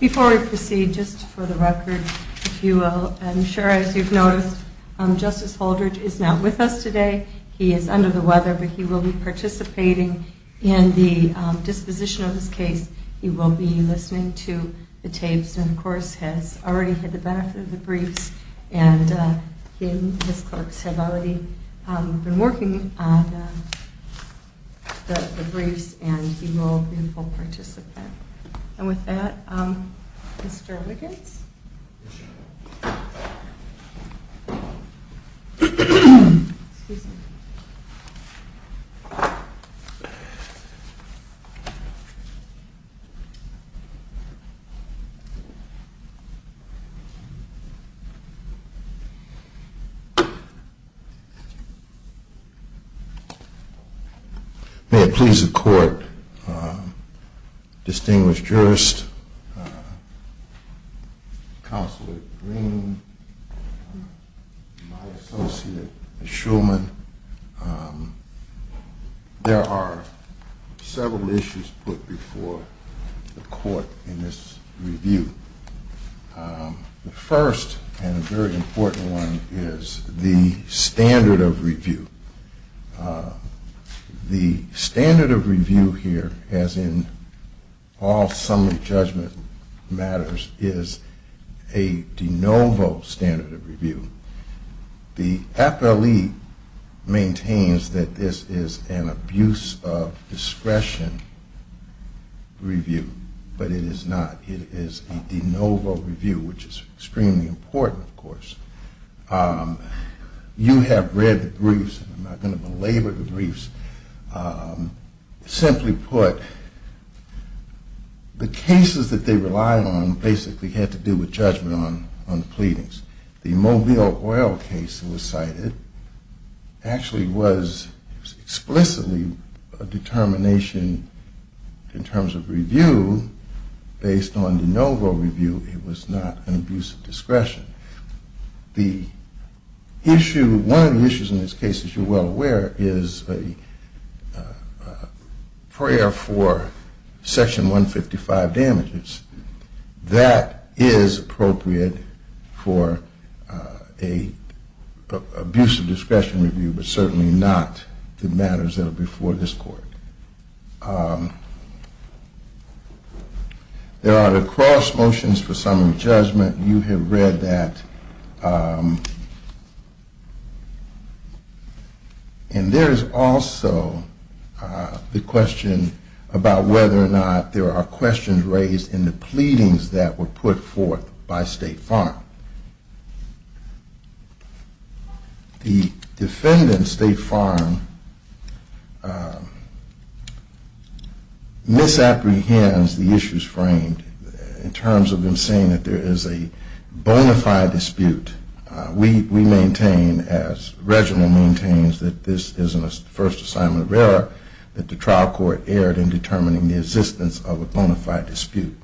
Before we proceed, just for the record, if you will, I'm sure as you've noticed, Justice Holdridge is not with us today. He is under the weather, but he will be participating in the hearing. In the disposition of this case, he will be listening to the tapes and of course has already had the benefit of the briefs and he and his clerks have already been working on the briefs and he will be a full participant. And with that, Mr. Wiggins. Mr. Wiggins. May it please the court, distinguished jurist, members of the public, and members of the jury, that I present before you today, Mr. Wiggins. Counselor Green, my associate, Ms. Shulman, there are several issues put before the court in this review. The first and very important one is the standard of review. The standard of review here, as in all summary judgment matters, is a de novo standard of review. The FLE maintains that this is an abuse of discretion review, but it is not. It is a de novo review, which is extremely important, of course. You have read the briefs, and I am not going to belabor the briefs. Simply put, the cases that they relied on basically had to do with judgment on the pleadings. The Mobile Oil case that was cited actually was explicitly a determination in terms of review based on de novo review. It was not an abuse of discretion. The issue, one of the issues in this case, as you are well aware, is a prayer for section 155 damages. That is appropriate for an abuse of discretion review, but certainly not the matters that are before this court. There are the cross motions for summary judgment. You have read that. And there is also the question about whether or not there are questions raised in the pleadings that were put forth by State Farm. The defendant, State Farm, misapprehends the issues framed in terms of them saying that there is a bona fide dispute. We maintain, as Reginald maintains, that this is a first assignment of error that the trial court erred in determining the existence of a bona fide dispute.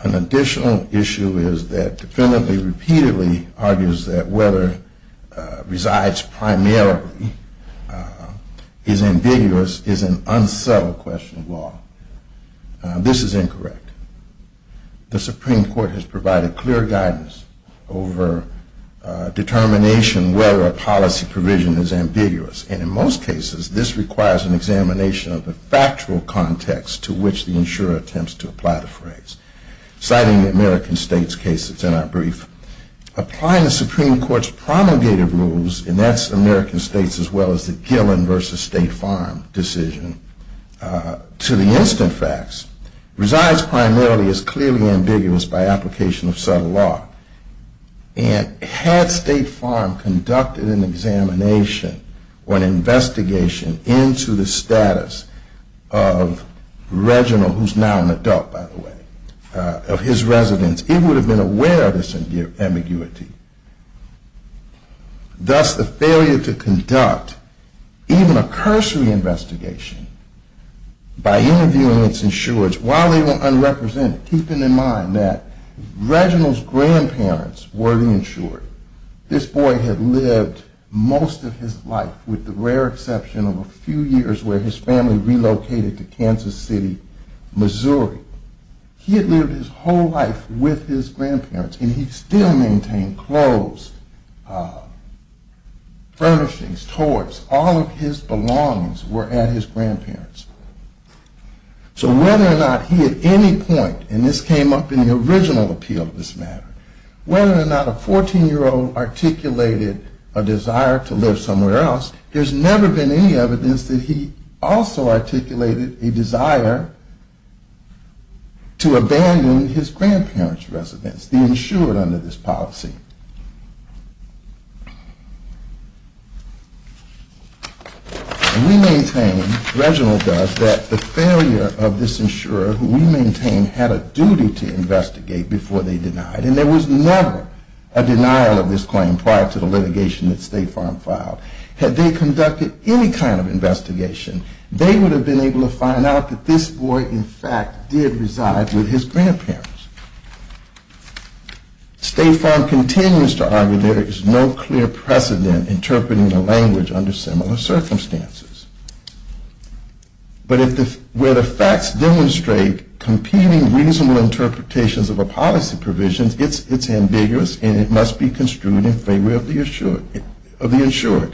An additional issue is that the defendant repeatedly argues that whether resides primarily is ambiguous is an unsettled question of law. This is incorrect. The Supreme Court has provided clear guidance over determination whether a policy provision is ambiguous. And in most cases, this requires an examination of the factual context to which the insurer attempts to apply the phrase. Citing the American States case that's in our brief, applying the Supreme Court's promulgated rules, and that's American States as well as the Gillen versus State Farm decision, to the instant facts, resides primarily as clearly ambiguous by application of subtle law. And had State Farm conducted an examination or an investigation into the status of Reginald, who is now an adult by the way, of his residence, it would have been aware of this ambiguity. Thus, the failure to conduct even a cursory investigation by interviewing its insurers while they were unrepresented, keeping in mind that Reginald's grandparents were the insurer. This boy had lived most of his life, with the rare exception of a few years where his family relocated to Kansas City, Missouri. He had lived his whole life with his grandparents and he still maintained clothes, furnishings, toys, all of his belongings were at his grandparents. So whether or not he at any point, and this came up in the original appeal of this matter, whether or not a 14-year-old articulated a desire to live somewhere else, there's never been any evidence that he also articulated a desire to abandon his grandparents' residence, the insurer under this policy. We maintain, Reginald does, that the failure of this insurer who we maintain had a duty to investigate before they denied, and there was never a denial of this claim prior to the litigation that State Farm filed. Had they conducted any kind of investigation, they would have been able to find out that this boy in fact did reside with his grandparents. State Farm continues to argue there is no clear precedent interpreting the language under similar circumstances. But where the facts demonstrate competing reasonable interpretations of a policy provision, it's ambiguous and it must be construed in favor of the insurer.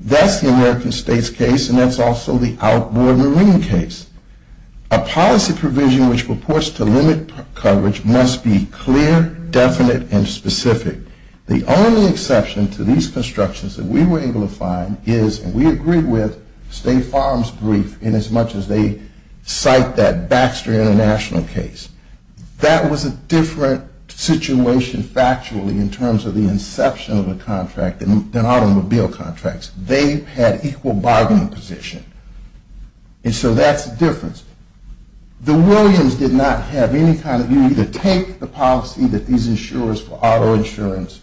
That's the American States case and that's also the outboard marine case. A policy provision which purports to limit coverage must be clear, definite, and specific. The only exception to these constructions that we were able to find is, and we agreed with, State Farm's brief in as much as they cite that Baxter International case. That was a different situation factually in terms of the inception of the contract than automobile contracts. They had equal bargaining position. And so that's the difference. The Williams did not have any kind of, you either take the policy that these insurers for auto insurance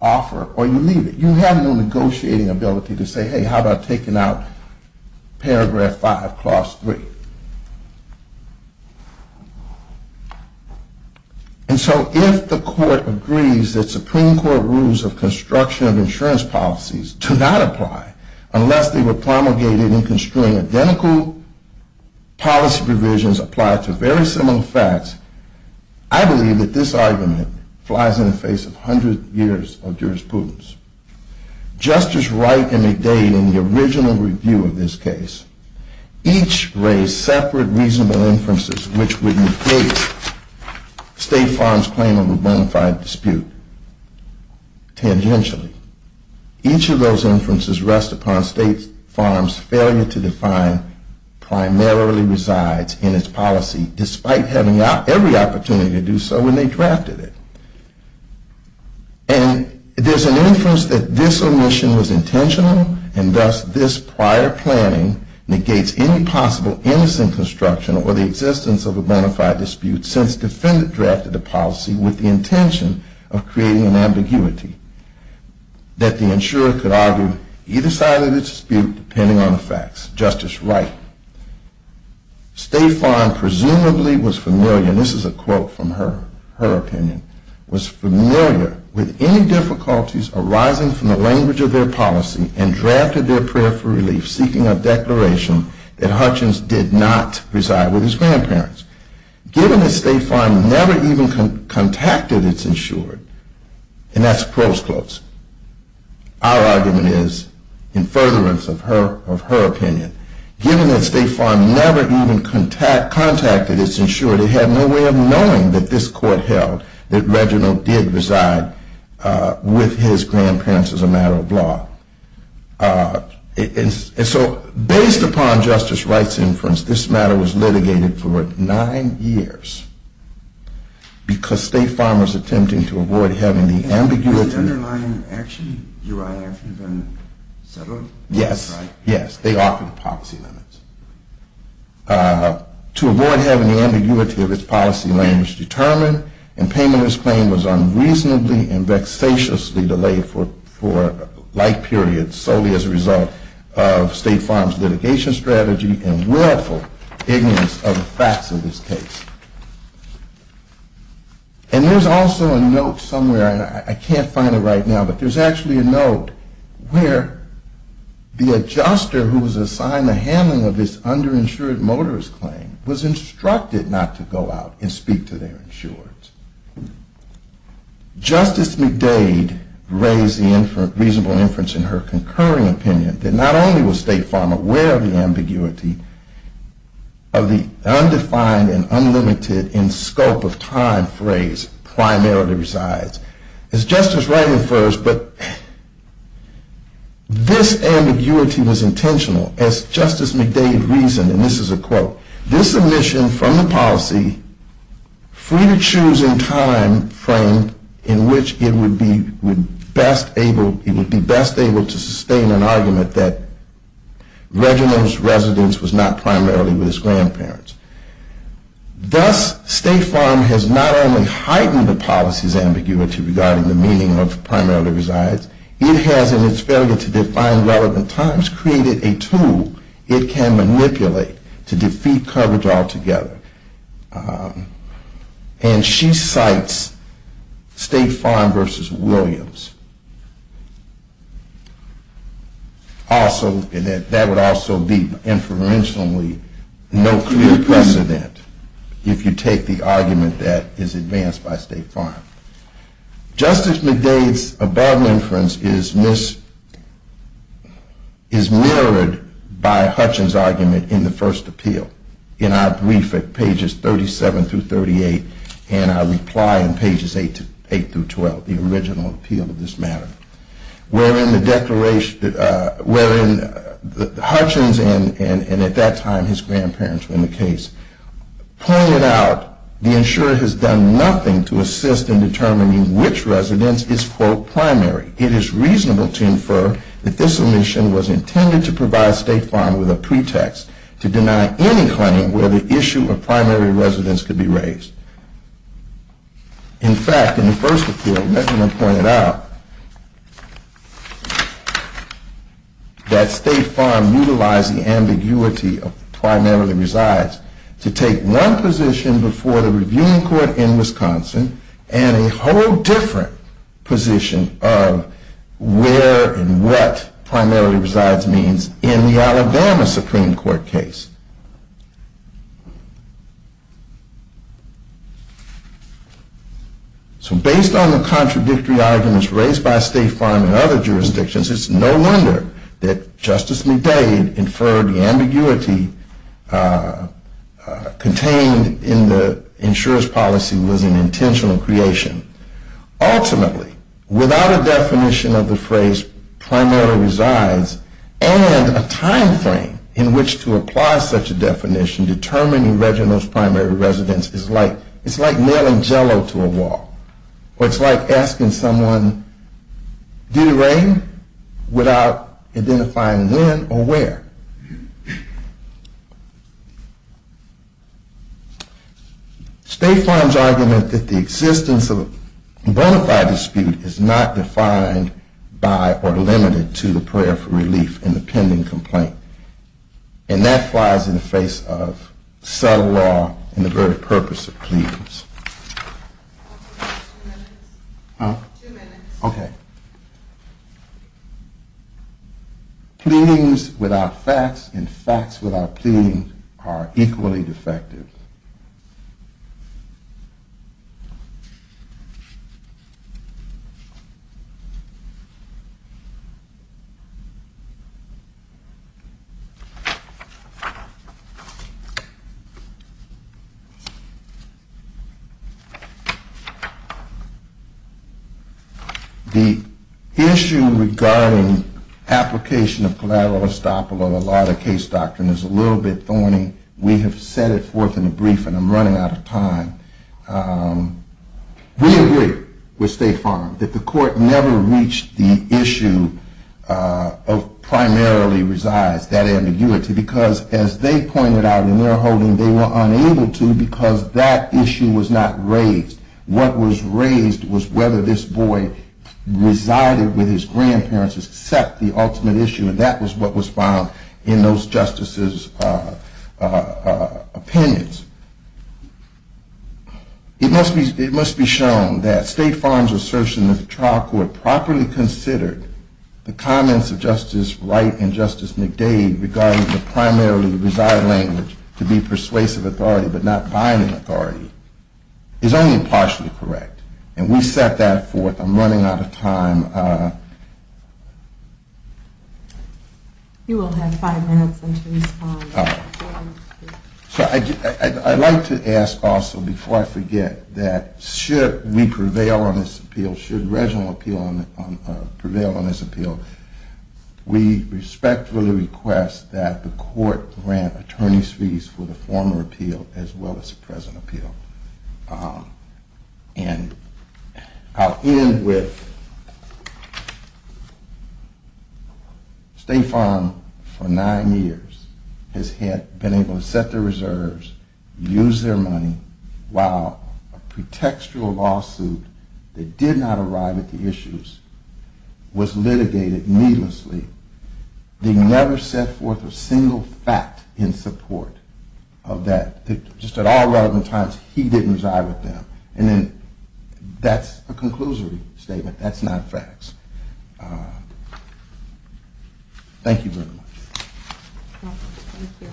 offer or you leave it. You have no negotiating ability to say, hey, how about taking out paragraph 5 clause 3. And so if the court agrees that Supreme Court rules of construction of insurance policies do not apply unless they were promulgated in construing identical policy provisions applied to very similar facts, I believe that this argument flies in the face of 100 years of jurisprudence. Justice Wright and McDade in the original review of this case, each raised separate reasonable inferences which would negate State Farm's claim of a bona fide dispute. Tangentially, each of those inferences rest upon State Farm's failure to define primarily resides in its policy despite having every opportunity to do so when they drafted it. And there's an inference that this omission was intentional and thus this prior planning negates any possible innocent construction or the existence of a bona fide dispute since the defendant drafted the policy with the intention of creating an ambiguity that the insurer could argue either side of the dispute depending on the facts. Justice Wright, State Farm presumably was familiar, and this is a quote from her, her opinion, was familiar with any difficulties arising from the language of their policy and drafted their prayer for relief seeking a declaration that Hutchins did not reside with his grandparents. Given that State Farm never even contacted its insured, and that's prose quotes, our argument is in furtherance of her opinion, given that State Farm never even contacted its insured, it had no way of knowing that this court held that Reginald did reside with his grandparents as a matter of law. And so based upon Justice Wright's inference, this matter was litigated for nine years because State Farm was attempting to avoid having the ambiguity… Was the underlying action URI action been settled? Yes, they offered policy limits. To avoid having the ambiguity of its policy language determined, and payment of this claim was unreasonably and vexatiously delayed for life periods solely as a result of State Farm's litigation strategy and willful ignorance of the facts of this case. And there's also a note somewhere, and I can't find it right now, but there's actually a note where the adjuster who was assigned the handling of this underinsured motorist claim was instructed not to go out and speak to their insurers. Justice McDade raised the reasonable inference in her concurring opinion that not only was State Farm aware of the ambiguity of the undefined and unlimited in scope of time phrase, primarily resides. As Justice Wright infers, but this ambiguity was intentional as Justice McDade reasoned, and this is a quote, Thus, State Farm has not only heightened the policy's ambiguity regarding the meaning of primarily resides, it has, in its failure to define relevant times, created a tool it can manipulate to defeat the ambiguity of the undefined in scope of time. And she cites State Farm versus Williams. Also, and that would also be inferentially no clear precedent if you take the argument that is advanced by State Farm. Justice McDade's above inference is mirrored by Hutchins' argument in the first appeal, in our brief at pages 37 through 38, and our reply in pages 8 through 12, the original appeal of this matter. Wherein Hutchins and at that time his grandparents were in the case, pointed out the insurer has done nothing to assist in determining which residence is quote primary. It is reasonable to infer that this omission was intended to provide State Farm with a pretext to deny any claim where the issue of primary residence could be raised. In fact, in the first appeal, Mecklenburg pointed out that State Farm utilized the ambiguity of primarily resides to take one position before the reviewing court in Wisconsin and a whole different position of where and what primarily resides means in the Alabama Supreme Court case. So based on the contradictory arguments raised by State Farm and other jurisdictions, it's no wonder that Justice McDade inferred the ambiguity contained in the insurer's policy was an intentional creation. Ultimately, without a definition of the phrase primary resides and a time frame in which to apply such a definition, determining Reginald's primary residence is like nailing Jell-O to a wall. Or it's like asking someone, did it rain? Without identifying when or where. State Farm's argument that the existence of a bona fide dispute is not defined by or limited to the prayer for relief in the pending complaint. And that flies in the face of sub-law and the very purpose of pleadings. Okay. Pleadings without facts and facts without pleadings are equally defective. The issue regarding application of collateral estoppel on a lot of case doctrine is a little bit thorny. We have set it forth in a brief and I'm running out of time. We agree with State Farm that the court never reached the issue of primarily resides, that ambiguity. Because as they pointed out in their holding, they were unable to because that issue was not raised. What was raised was whether this boy resided with his grandparents except the ultimate issue and that was what was found in those justices' opinions. It must be shown that State Farm's assertion that the trial court properly considered the comments of Justice Wright and Justice McDade regarding the primarily reside language to be persuasive authority but not binding authority is only partially correct. And we set that forth. I'm running out of time. You will have five minutes until you respond. I'd like to ask also before I forget that should we prevail on this appeal, should Reginald prevail on this appeal, we respectfully request that the court grant attorney's fees for the former appeal as well as the present appeal. And I'll end with State Farm for nine years has been able to set their reserves, use their money, while a pretextual lawsuit that did not arrive at the issues was litigated needlessly. They never set forth a single fact in support of that. Just at all relevant times he didn't reside with them. And that's a conclusory statement. That's not facts. Thank you very much. Thank you.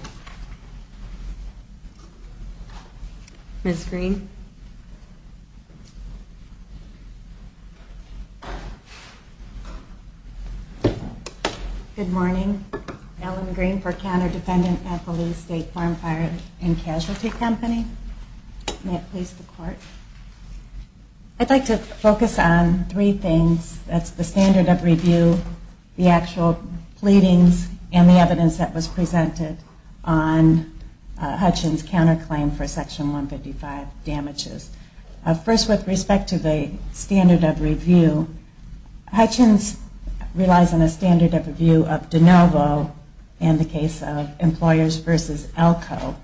Ms. Green. Good morning. Ellen Green for counter-defendant at the Lee State Farm Fire and Casualty Company. May it please the court. I'd like to focus on three things. That's the standard of review, the actual pleadings, and the evidence that was presented on Hutchins' counterclaim for Section 155 damages. First, with respect to the standard of review, Hutchins relies on a standard of review of DeNovo in the case of Employers v. Elko.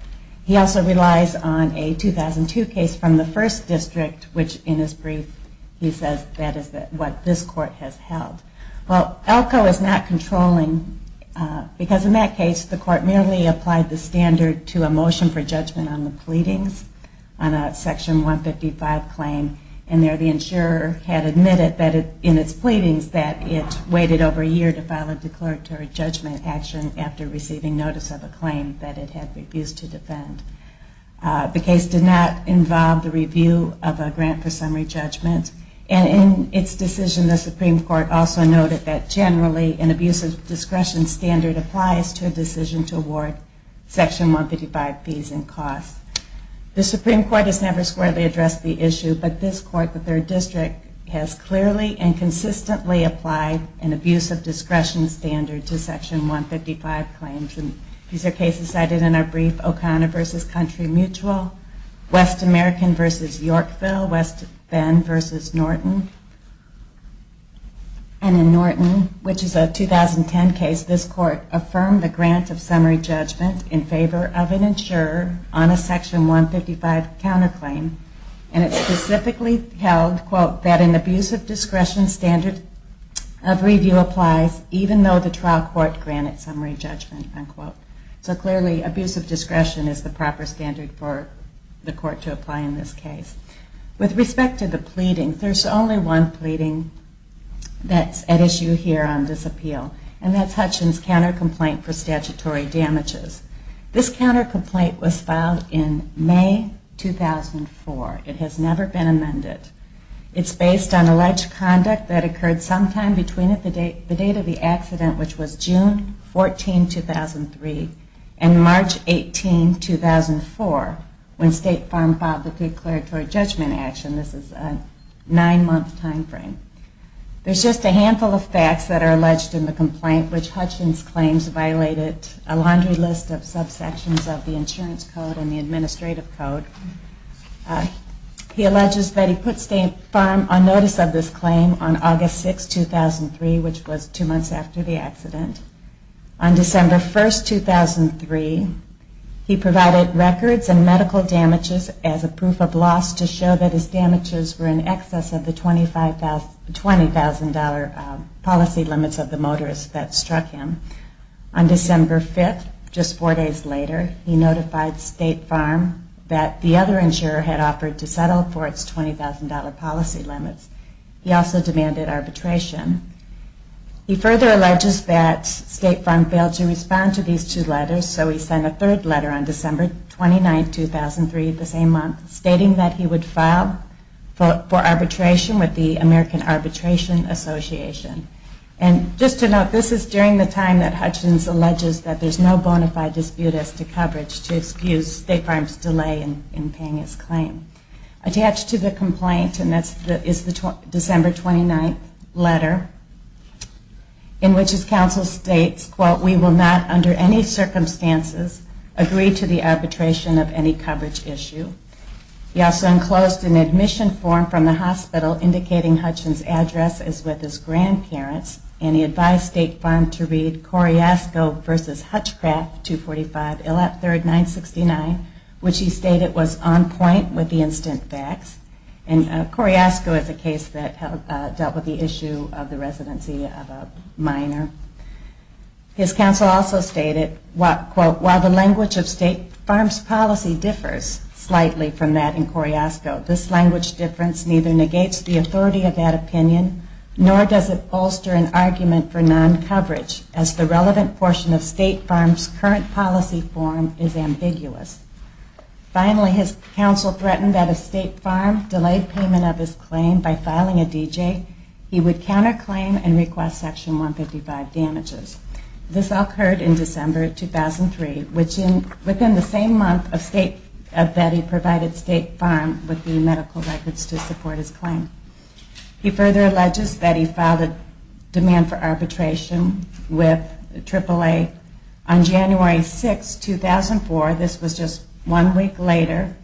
He also relies on a 2002 case from the First District, which in his brief he says that is what this court has held. Well, Elko is not controlling, because in that case the court merely applied the standard to a motion for judgment on the pleadings on a Section 155 claim. And there the insurer had admitted that in its pleadings that it waited over a year to file a declaratory judgment action after receiving notice of a claim that it had refused to defend. The case did not involve the review of a grant for summary judgment. And in its decision, the Supreme Court also noted that generally an abuse of discretion standard applies to a decision to award Section 155 fees and costs. The Supreme Court has never squarely addressed the issue, but this court, the Third District, has clearly and consistently applied an abuse of discretion standard to Section 155 claims. And these are cases cited in our brief, O'Connor v. Country Mutual, West American v. Yorkville, West Bend v. Norton. And in Norton, which is a 2010 case, this court affirmed the grant of summary judgment in favor of an insurer on a Section 155 counterclaim. And it specifically held, quote, that an abuse of discretion standard of review applies even though the trial court granted summary judgment, unquote. So clearly abuse of discretion is the proper standard for the court to apply in this case. With respect to the pleading, there's only one pleading that's at issue here on this appeal, and that's Hutchins' countercomplaint for statutory damages. This countercomplaint was filed in May 2004. It has never been amended. It's based on alleged conduct that occurred sometime between the date of the accident, which was June 14, 2003, and March 18, 2004, when State Farm filed the declaratory judgment. This is a nine-month time frame. There's just a handful of facts that are alleged in the complaint, which Hutchins' claims violated a laundry list of subsections of the insurance code and the administrative code. He alleges that he put State Farm on notice of this claim on August 6, 2003, which was two months after the accident. On December 1, 2003, he provided records and medical damages as a proof of loss to show that his damages were in excess of the $20,000 policy limits of the motorist that struck him. On December 5, just four days later, he notified State Farm that the other insurer had offered to settle for its $20,000 policy limits. He also demanded arbitration. He further alleges that State Farm failed to respond to these two letters, so he sent a third letter on December 29, 2003, the same month, stating that he would file for arbitration with the American Arbitration Association. And just to note, this is during the time that Hutchins alleges that there's no bona fide dispute as to coverage to excuse State Farm's delay in paying its claim. Attached to the complaint is the December 29 letter, in which his counsel states, quote, we will not, under any circumstances, agree to the arbitration of any coverage issue. He also enclosed an admission form from the hospital indicating Hutchins' address as with his grandparents. And he advised State Farm to read Coriasco v. Hutchcraft, 245 Illett 3rd, 969, which he stated was on point with the instant facts. And Coriasco is a case that dealt with the issue of the residency of a minor. His counsel also stated, quote, while the language of State Farm's policy differs slightly from that in Coriasco, this language difference neither negates the authority of that opinion, nor does it bolster an argument for non-coverage, as the relevant portion of State Farm's current policy form is ambiguous. Finally, his counsel threatened that if State Farm delayed payment of his claim by filing a DJ, he would counterclaim and request Section 155 damages. This all occurred in December 2003, within the same month that he provided State Farm with the medical records to support his claim. He further alleges that he filed a demand for arbitration with AAA on January 6, 2004. This was just one week later,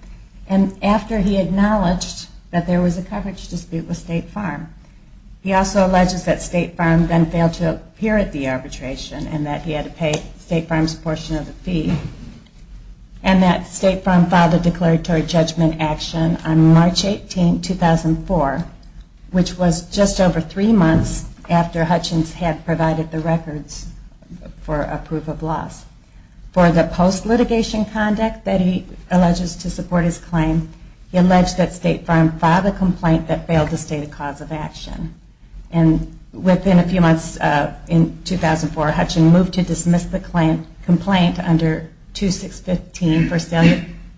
and after he acknowledged that there was a coverage dispute with State Farm. He also alleges that State Farm then failed to appear at the arbitration and that he had to pay State Farm's portion of the fee, and that State Farm filed a declaratory judgment action on March 18, 2004, which was just over three months after Hutchins had provided the records for a proof of loss. For the post-litigation conduct that he alleges to support his claim, he alleged that State Farm filed a complaint that failed to state a cause of action. And within a few months, in 2004, Hutchins moved to dismiss the complaint under 2615 for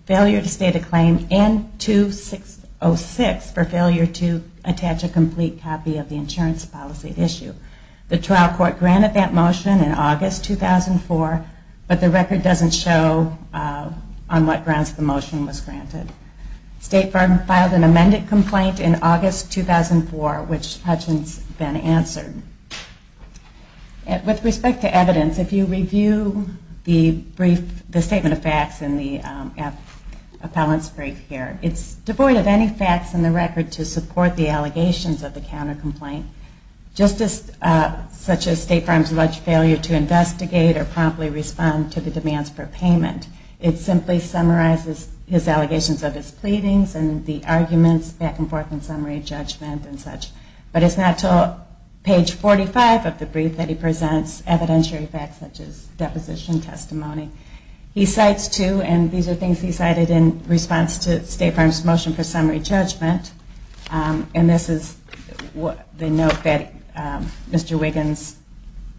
failure to state a claim, and 2606 for failure to attach a complete copy of the insurance policy issue. The trial court granted that motion in August 2004, but the record doesn't show on what grounds the motion was granted. State Farm filed an amended complaint in August 2004, which Hutchins then answered. With respect to evidence, if you review the statement of facts in the appellant's brief here, it's devoid of any facts in the record to support the allegations of the counter-complaint, such as State Farm's alleged failure to investigate or promptly respond to the demands for payment. It simply summarizes his allegations of his pleadings and the arguments back and forth in summary judgment and such. But it's not until page 45 of the brief that he presents evidentiary facts such as deposition testimony. He cites two, and these are things he cited in response to State Farm's motion for summary judgment, and this is the note that Mr. Wiggins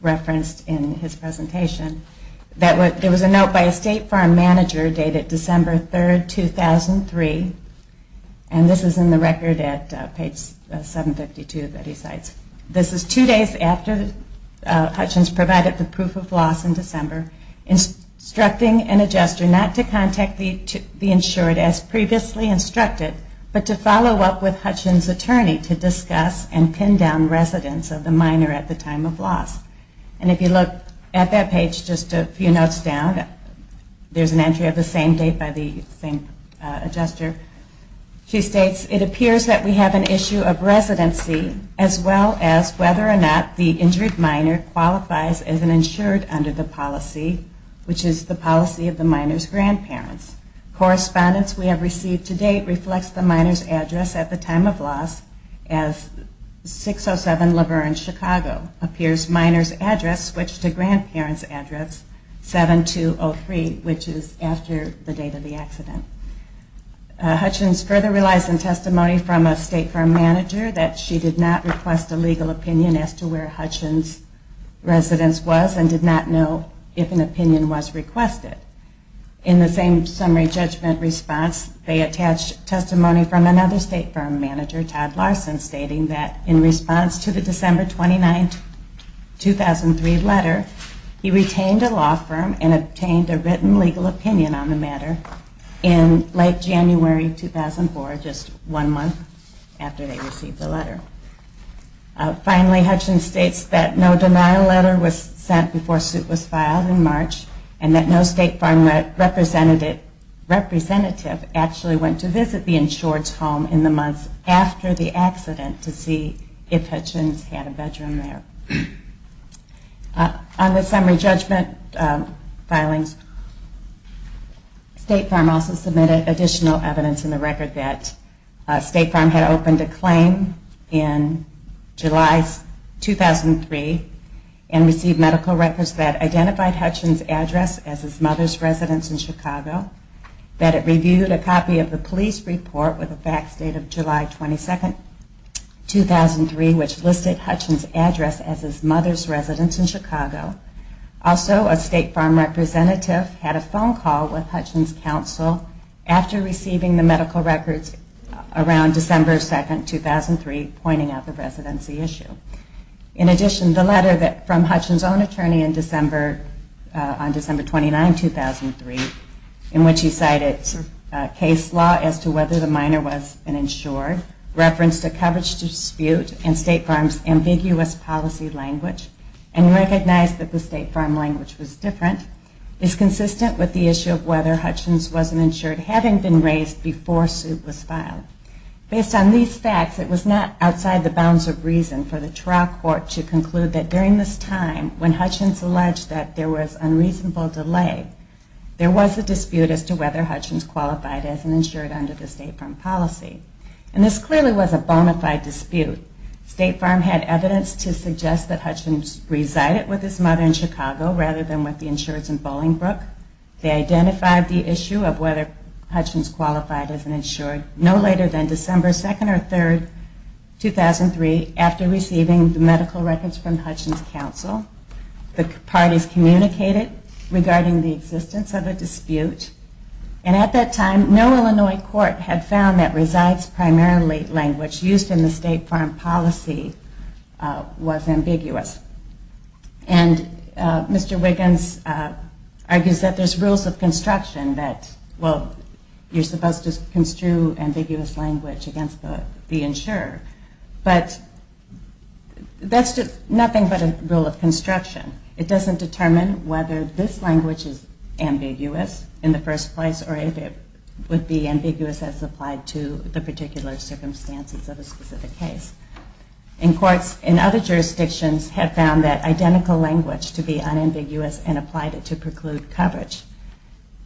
referenced in his presentation. There was a note by a State Farm manager dated December 3, 2003, and this is in the record at page 752 that he cites. This is two days after Hutchins provided the proof of loss in December, instructing an adjuster not to contact the insured as previously instructed, but to follow up with Hutchins' attorney to discuss and pin down residence of the minor at the time of loss. And if you look at that page just a few notes down, there's an entry of the same date by the same adjuster. She states, it appears that we have an issue of residency as well as whether or not the injured minor qualifies as an insured under the policy, which is the policy of the minor's grandparents. Correspondence we have received to date reflects the minor's address at the time of loss as 607 Laverne, Chicago. It appears minor's address switched to grandparent's address, 7203, which is after the date of the accident. Hutchins further relies on testimony from a State Farm manager that she did not request a legal opinion as to where Hutchins' residence was and did not know if an opinion was requested. In the same summary judgment response, they attached testimony from another State Farm manager, Todd Larson, stating that in response to the December 29, 2003 letter, he retained a law firm and obtained a written legal opinion on the matter in late January 2004, just one month after they received the letter. Finally, Hutchins states that no denial letter was sent before suit was filed in March, and that no State Farm representative actually went to visit the insured's home in the months after the accident to see if Hutchins had a bedroom there. On the summary judgment filings, State Farm also submitted additional evidence in the record that State Farm had opened a claim in March of 2003, which was identified as Hutchins' address as his mother's residence in Chicago, that it reviewed a copy of the police report with a fax date of July 22, 2003, which listed Hutchins' address as his mother's residence in Chicago. Also, a State Farm representative had a phone call with Hutchins' counsel after receiving the medical records around December 2, 2003, pointing out the residency issue. In addition, the letter from Hutchins' own attorney on December 29, 2003, in which he cited case law as to whether the minor was an insured, referenced a coverage dispute, and State Farm's ambiguous policy language, and recognized that the State Farm language was different, is consistent with the issue of whether Hutchins was an insured having been raised before suit was filed. Based on these facts, it was not outside the bounds of reason for the Tarracourt to conclude that during this time, when Hutchins alleged that there was unreasonable delay, there was a dispute as to whether Hutchins qualified as an insured under the State Farm policy. And this clearly was a bonafide dispute. State Farm had evidence to suggest that Hutchins resided with his mother in Chicago rather than with the insureds in Chicago. The court did not conclude the issue of whether Hutchins qualified as an insured no later than December 2 or 3, 2003, after receiving the medical records from Hutchins' counsel. The parties communicated regarding the existence of a dispute. And at that time, no Illinois court had found that resides primarily language used in the State Farm policy was ambiguous. And Mr. Wiggins argues that there's rules of construction that require the State Farm to be ambiguous. Well, you're supposed to construe ambiguous language against the insurer. But that's just nothing but a rule of construction. It doesn't determine whether this language is ambiguous in the first place or if it would be ambiguous as applied to the particular circumstances of a specific case. And courts in other jurisdictions have found that identical language to be unambiguous and applied it to preclude coverage.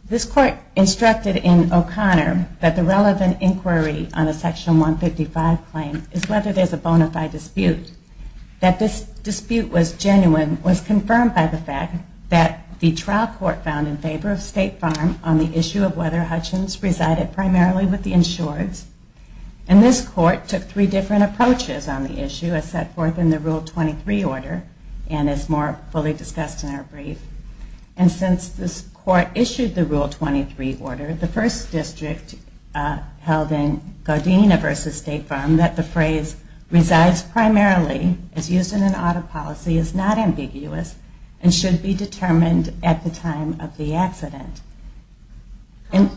This court, in its ruling, instructed in O'Connor that the relevant inquiry on a Section 155 claim is whether there's a bonafide dispute. That this dispute was genuine was confirmed by the fact that the trial court found in favor of State Farm on the issue of whether Hutchins resided primarily with the insureds. And this court took three different approaches on the issue, as set forth in the Rule 23 order and as more fully discussed in our brief. And since this court issued the Rule 23 order, the first district held in Godina v. State Farm that the phrase resides primarily as used in an audit policy is not ambiguous and should be determined at the time of the accident. In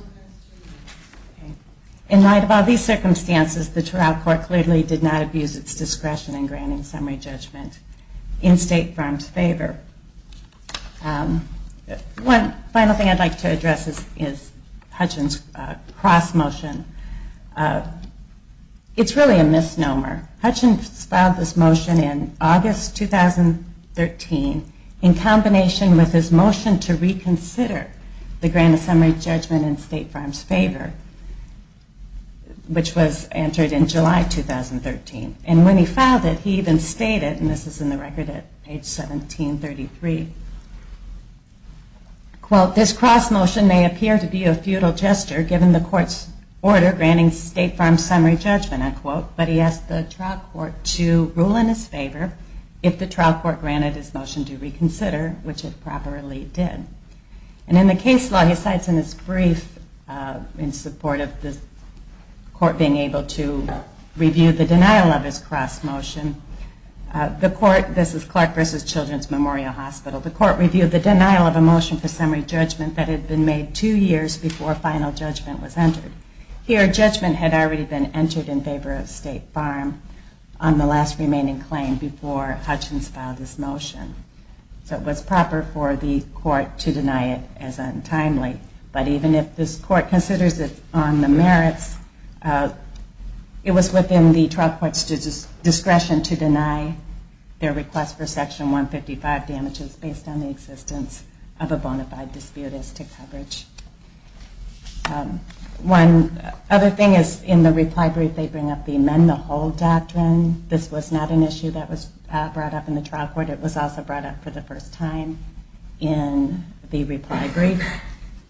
light of all these circumstances, the trial court clearly did not abuse its discretion in granting summary judgment in State Farm's favor. One final thing I'd like to address is Hutchins' cross motion. It's really a misnomer. Hutchins filed this motion in August 2013 in combination with his motion to reconsider the grant of summary judgment in State Farm's favor, which was entered in July 2013. And when he filed it, he even stated, and this is in the record at page 1733, quote, this cross motion may appear to be a futile gesture given the court's order granting State Farm's summary judgment, end quote, but he asked the trial court to rule in his favor if the trial court granted his motion to reconsider, which it properly did. And in the case law, he cites in his brief, in support of the court being able to review the denial of his cross motion, the court, this is Clark versus Children's Memorial Hospital, the court reviewed the denial of a motion for summary judgment that had been made two years before final judgment was entered. Here, judgment had already been entered in favor of State Farm on the last remaining claim before Hutchins filed this motion. So it was proper for the court to deny it as untimely. But even if this court considers it on the merits, it was within the trial court's discretion to deny their request for section 155 damages based on the existence of a bona fide dispute as to coverage. One other thing is in the reply brief, they bring up the amend the whole doctrine. This was not an issue that was brought up in the trial court. It was also brought up for the first time in the reply brief.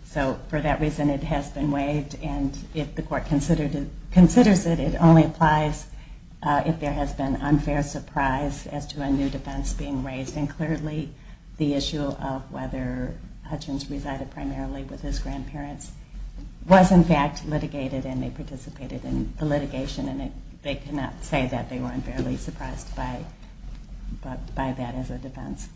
So for that reason, it has been waived. And if the court considers it, it only applies if the trial court considers it. But there has been unfair surprise as to a new defense being raised, and clearly the issue of whether Hutchins resided primarily with his grandparents was in fact litigated, and they participated in the litigation, and they cannot say that they were unfairly surprised by that as a defense.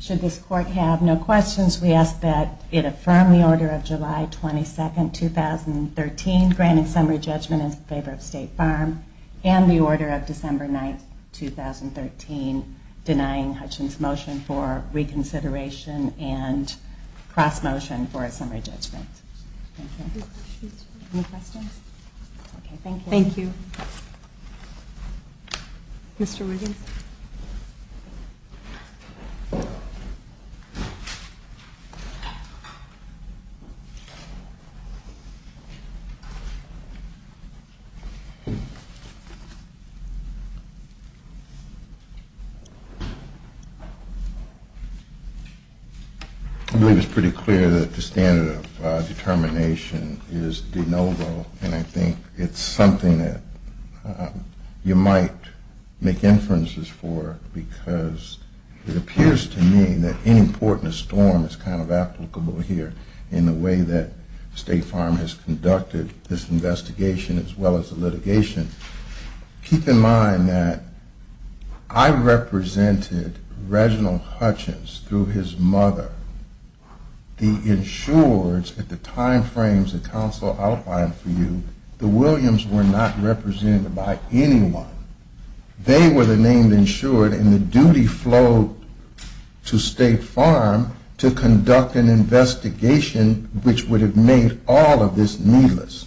Should this court have no questions, we ask that it affirm the order of July 22, 2013, granting summary judgment in favor of State Farm, and the court, on December 9, 2013, denying Hutchins' motion for reconsideration and cross-motion for a summary judgment. Thank you. I believe it's pretty clear that the standard of determination is de novo, and I think it's something that you might make inferences for, because it appears to me that inimportance form is kind of applicable here in the way that State Farm has conducted this investigation as well as the litigation. Keep in mind that I represented Reginald Hutchins through his mother. The insureds at the time frames that counsel outlined for you, the Williams were not represented by anyone. They were the named insured, and the duty flowed to State Farm to conduct an investigation which would have made all of this needless.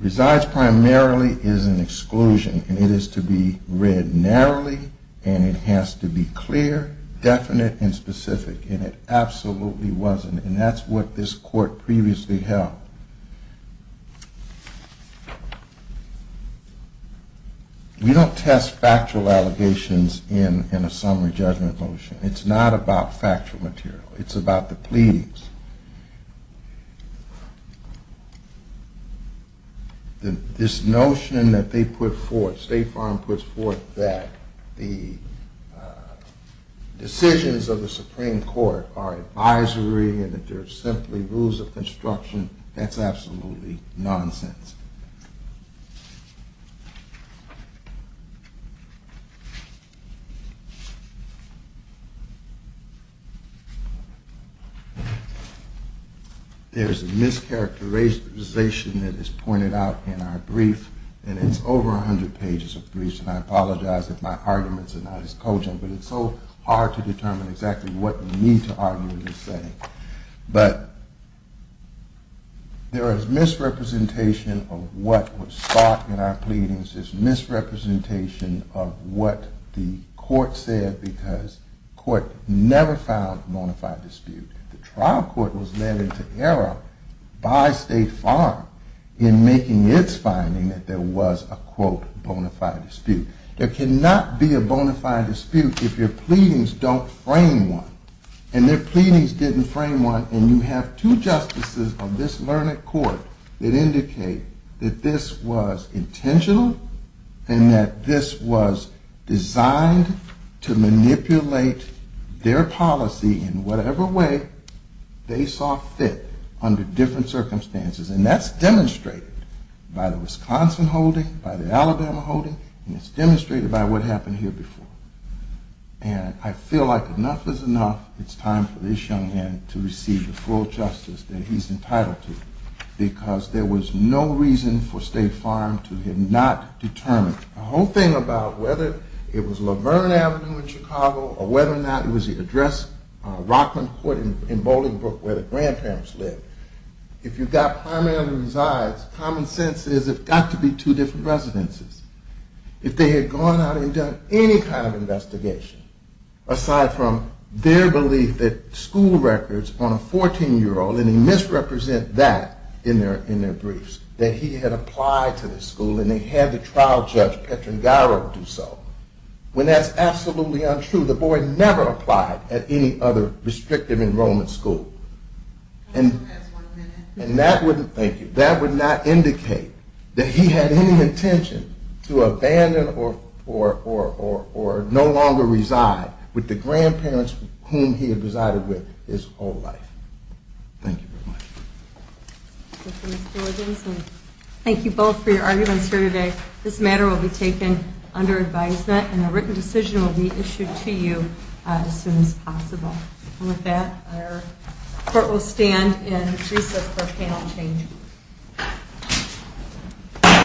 Resides primarily is an exclusion, and it is to be read narrowly, and it has to be clear, definite, and specific. And it absolutely wasn't, and that's what this court previously held. We don't test factual allegations in a summary judgment motion. It's not about factual material. It's about the pleadings. This notion that they put forth, State Farm puts forth that the decisions of the Supreme Court are advisory and that they are simply rules of construction, that's absolutely nonsense. There is a mischaracterization that is pointed out in our brief, and it's over 100 pages of briefs, and I apologize if my arguments are not as cogent, but it's so hard to determine exactly what you need to argue in this setting. But there is misrepresentation of what was thought in our pleadings. There is misrepresentation of what the court said because the court never found a bona fide dispute. The trial court was led into error by State Farm in making its finding that there was a quote bona fide dispute. There cannot be a bona fide dispute if your pleadings don't frame one, and their pleadings didn't frame one, and you have two justices of this learned court that indicate that this was intentional, and that this was designed to manipulate their policy in whatever way they saw fit under different circumstances, and that's demonstrated by the Wisconsin holding, by the Alabama holding, and it's demonstrated by what happened here before. And I feel like enough is enough, it's time for this young man to receive the full justice that he's entitled to, because there was no reason for State Farm to have not determined the whole thing about whether it was Laverne Avenue in Chicago or whether or not it was the address Rockland Court in Bolingbrook where the grandparents lived. If you've got primary resides, common sense is it's got to be two different residences. If they had gone out and done any kind of investigation, aside from their belief that school records on a 14-year-old, and they misrepresent that in their briefs, that he had applied to the school and they had the trial judge Petron Garrow do so, when that's absolutely untrue, the boy never applied at any other restrictive enrollment school. And that would not indicate that he had any intention to abandon or no longer reside with the grandparents whom he had resided with his whole life. Thank you very much. Thank you both for your arguments here today. This matter will be taken under advisement and a written decision will be issued to you as soon as possible. And with that, our court will stand and recess for panel change.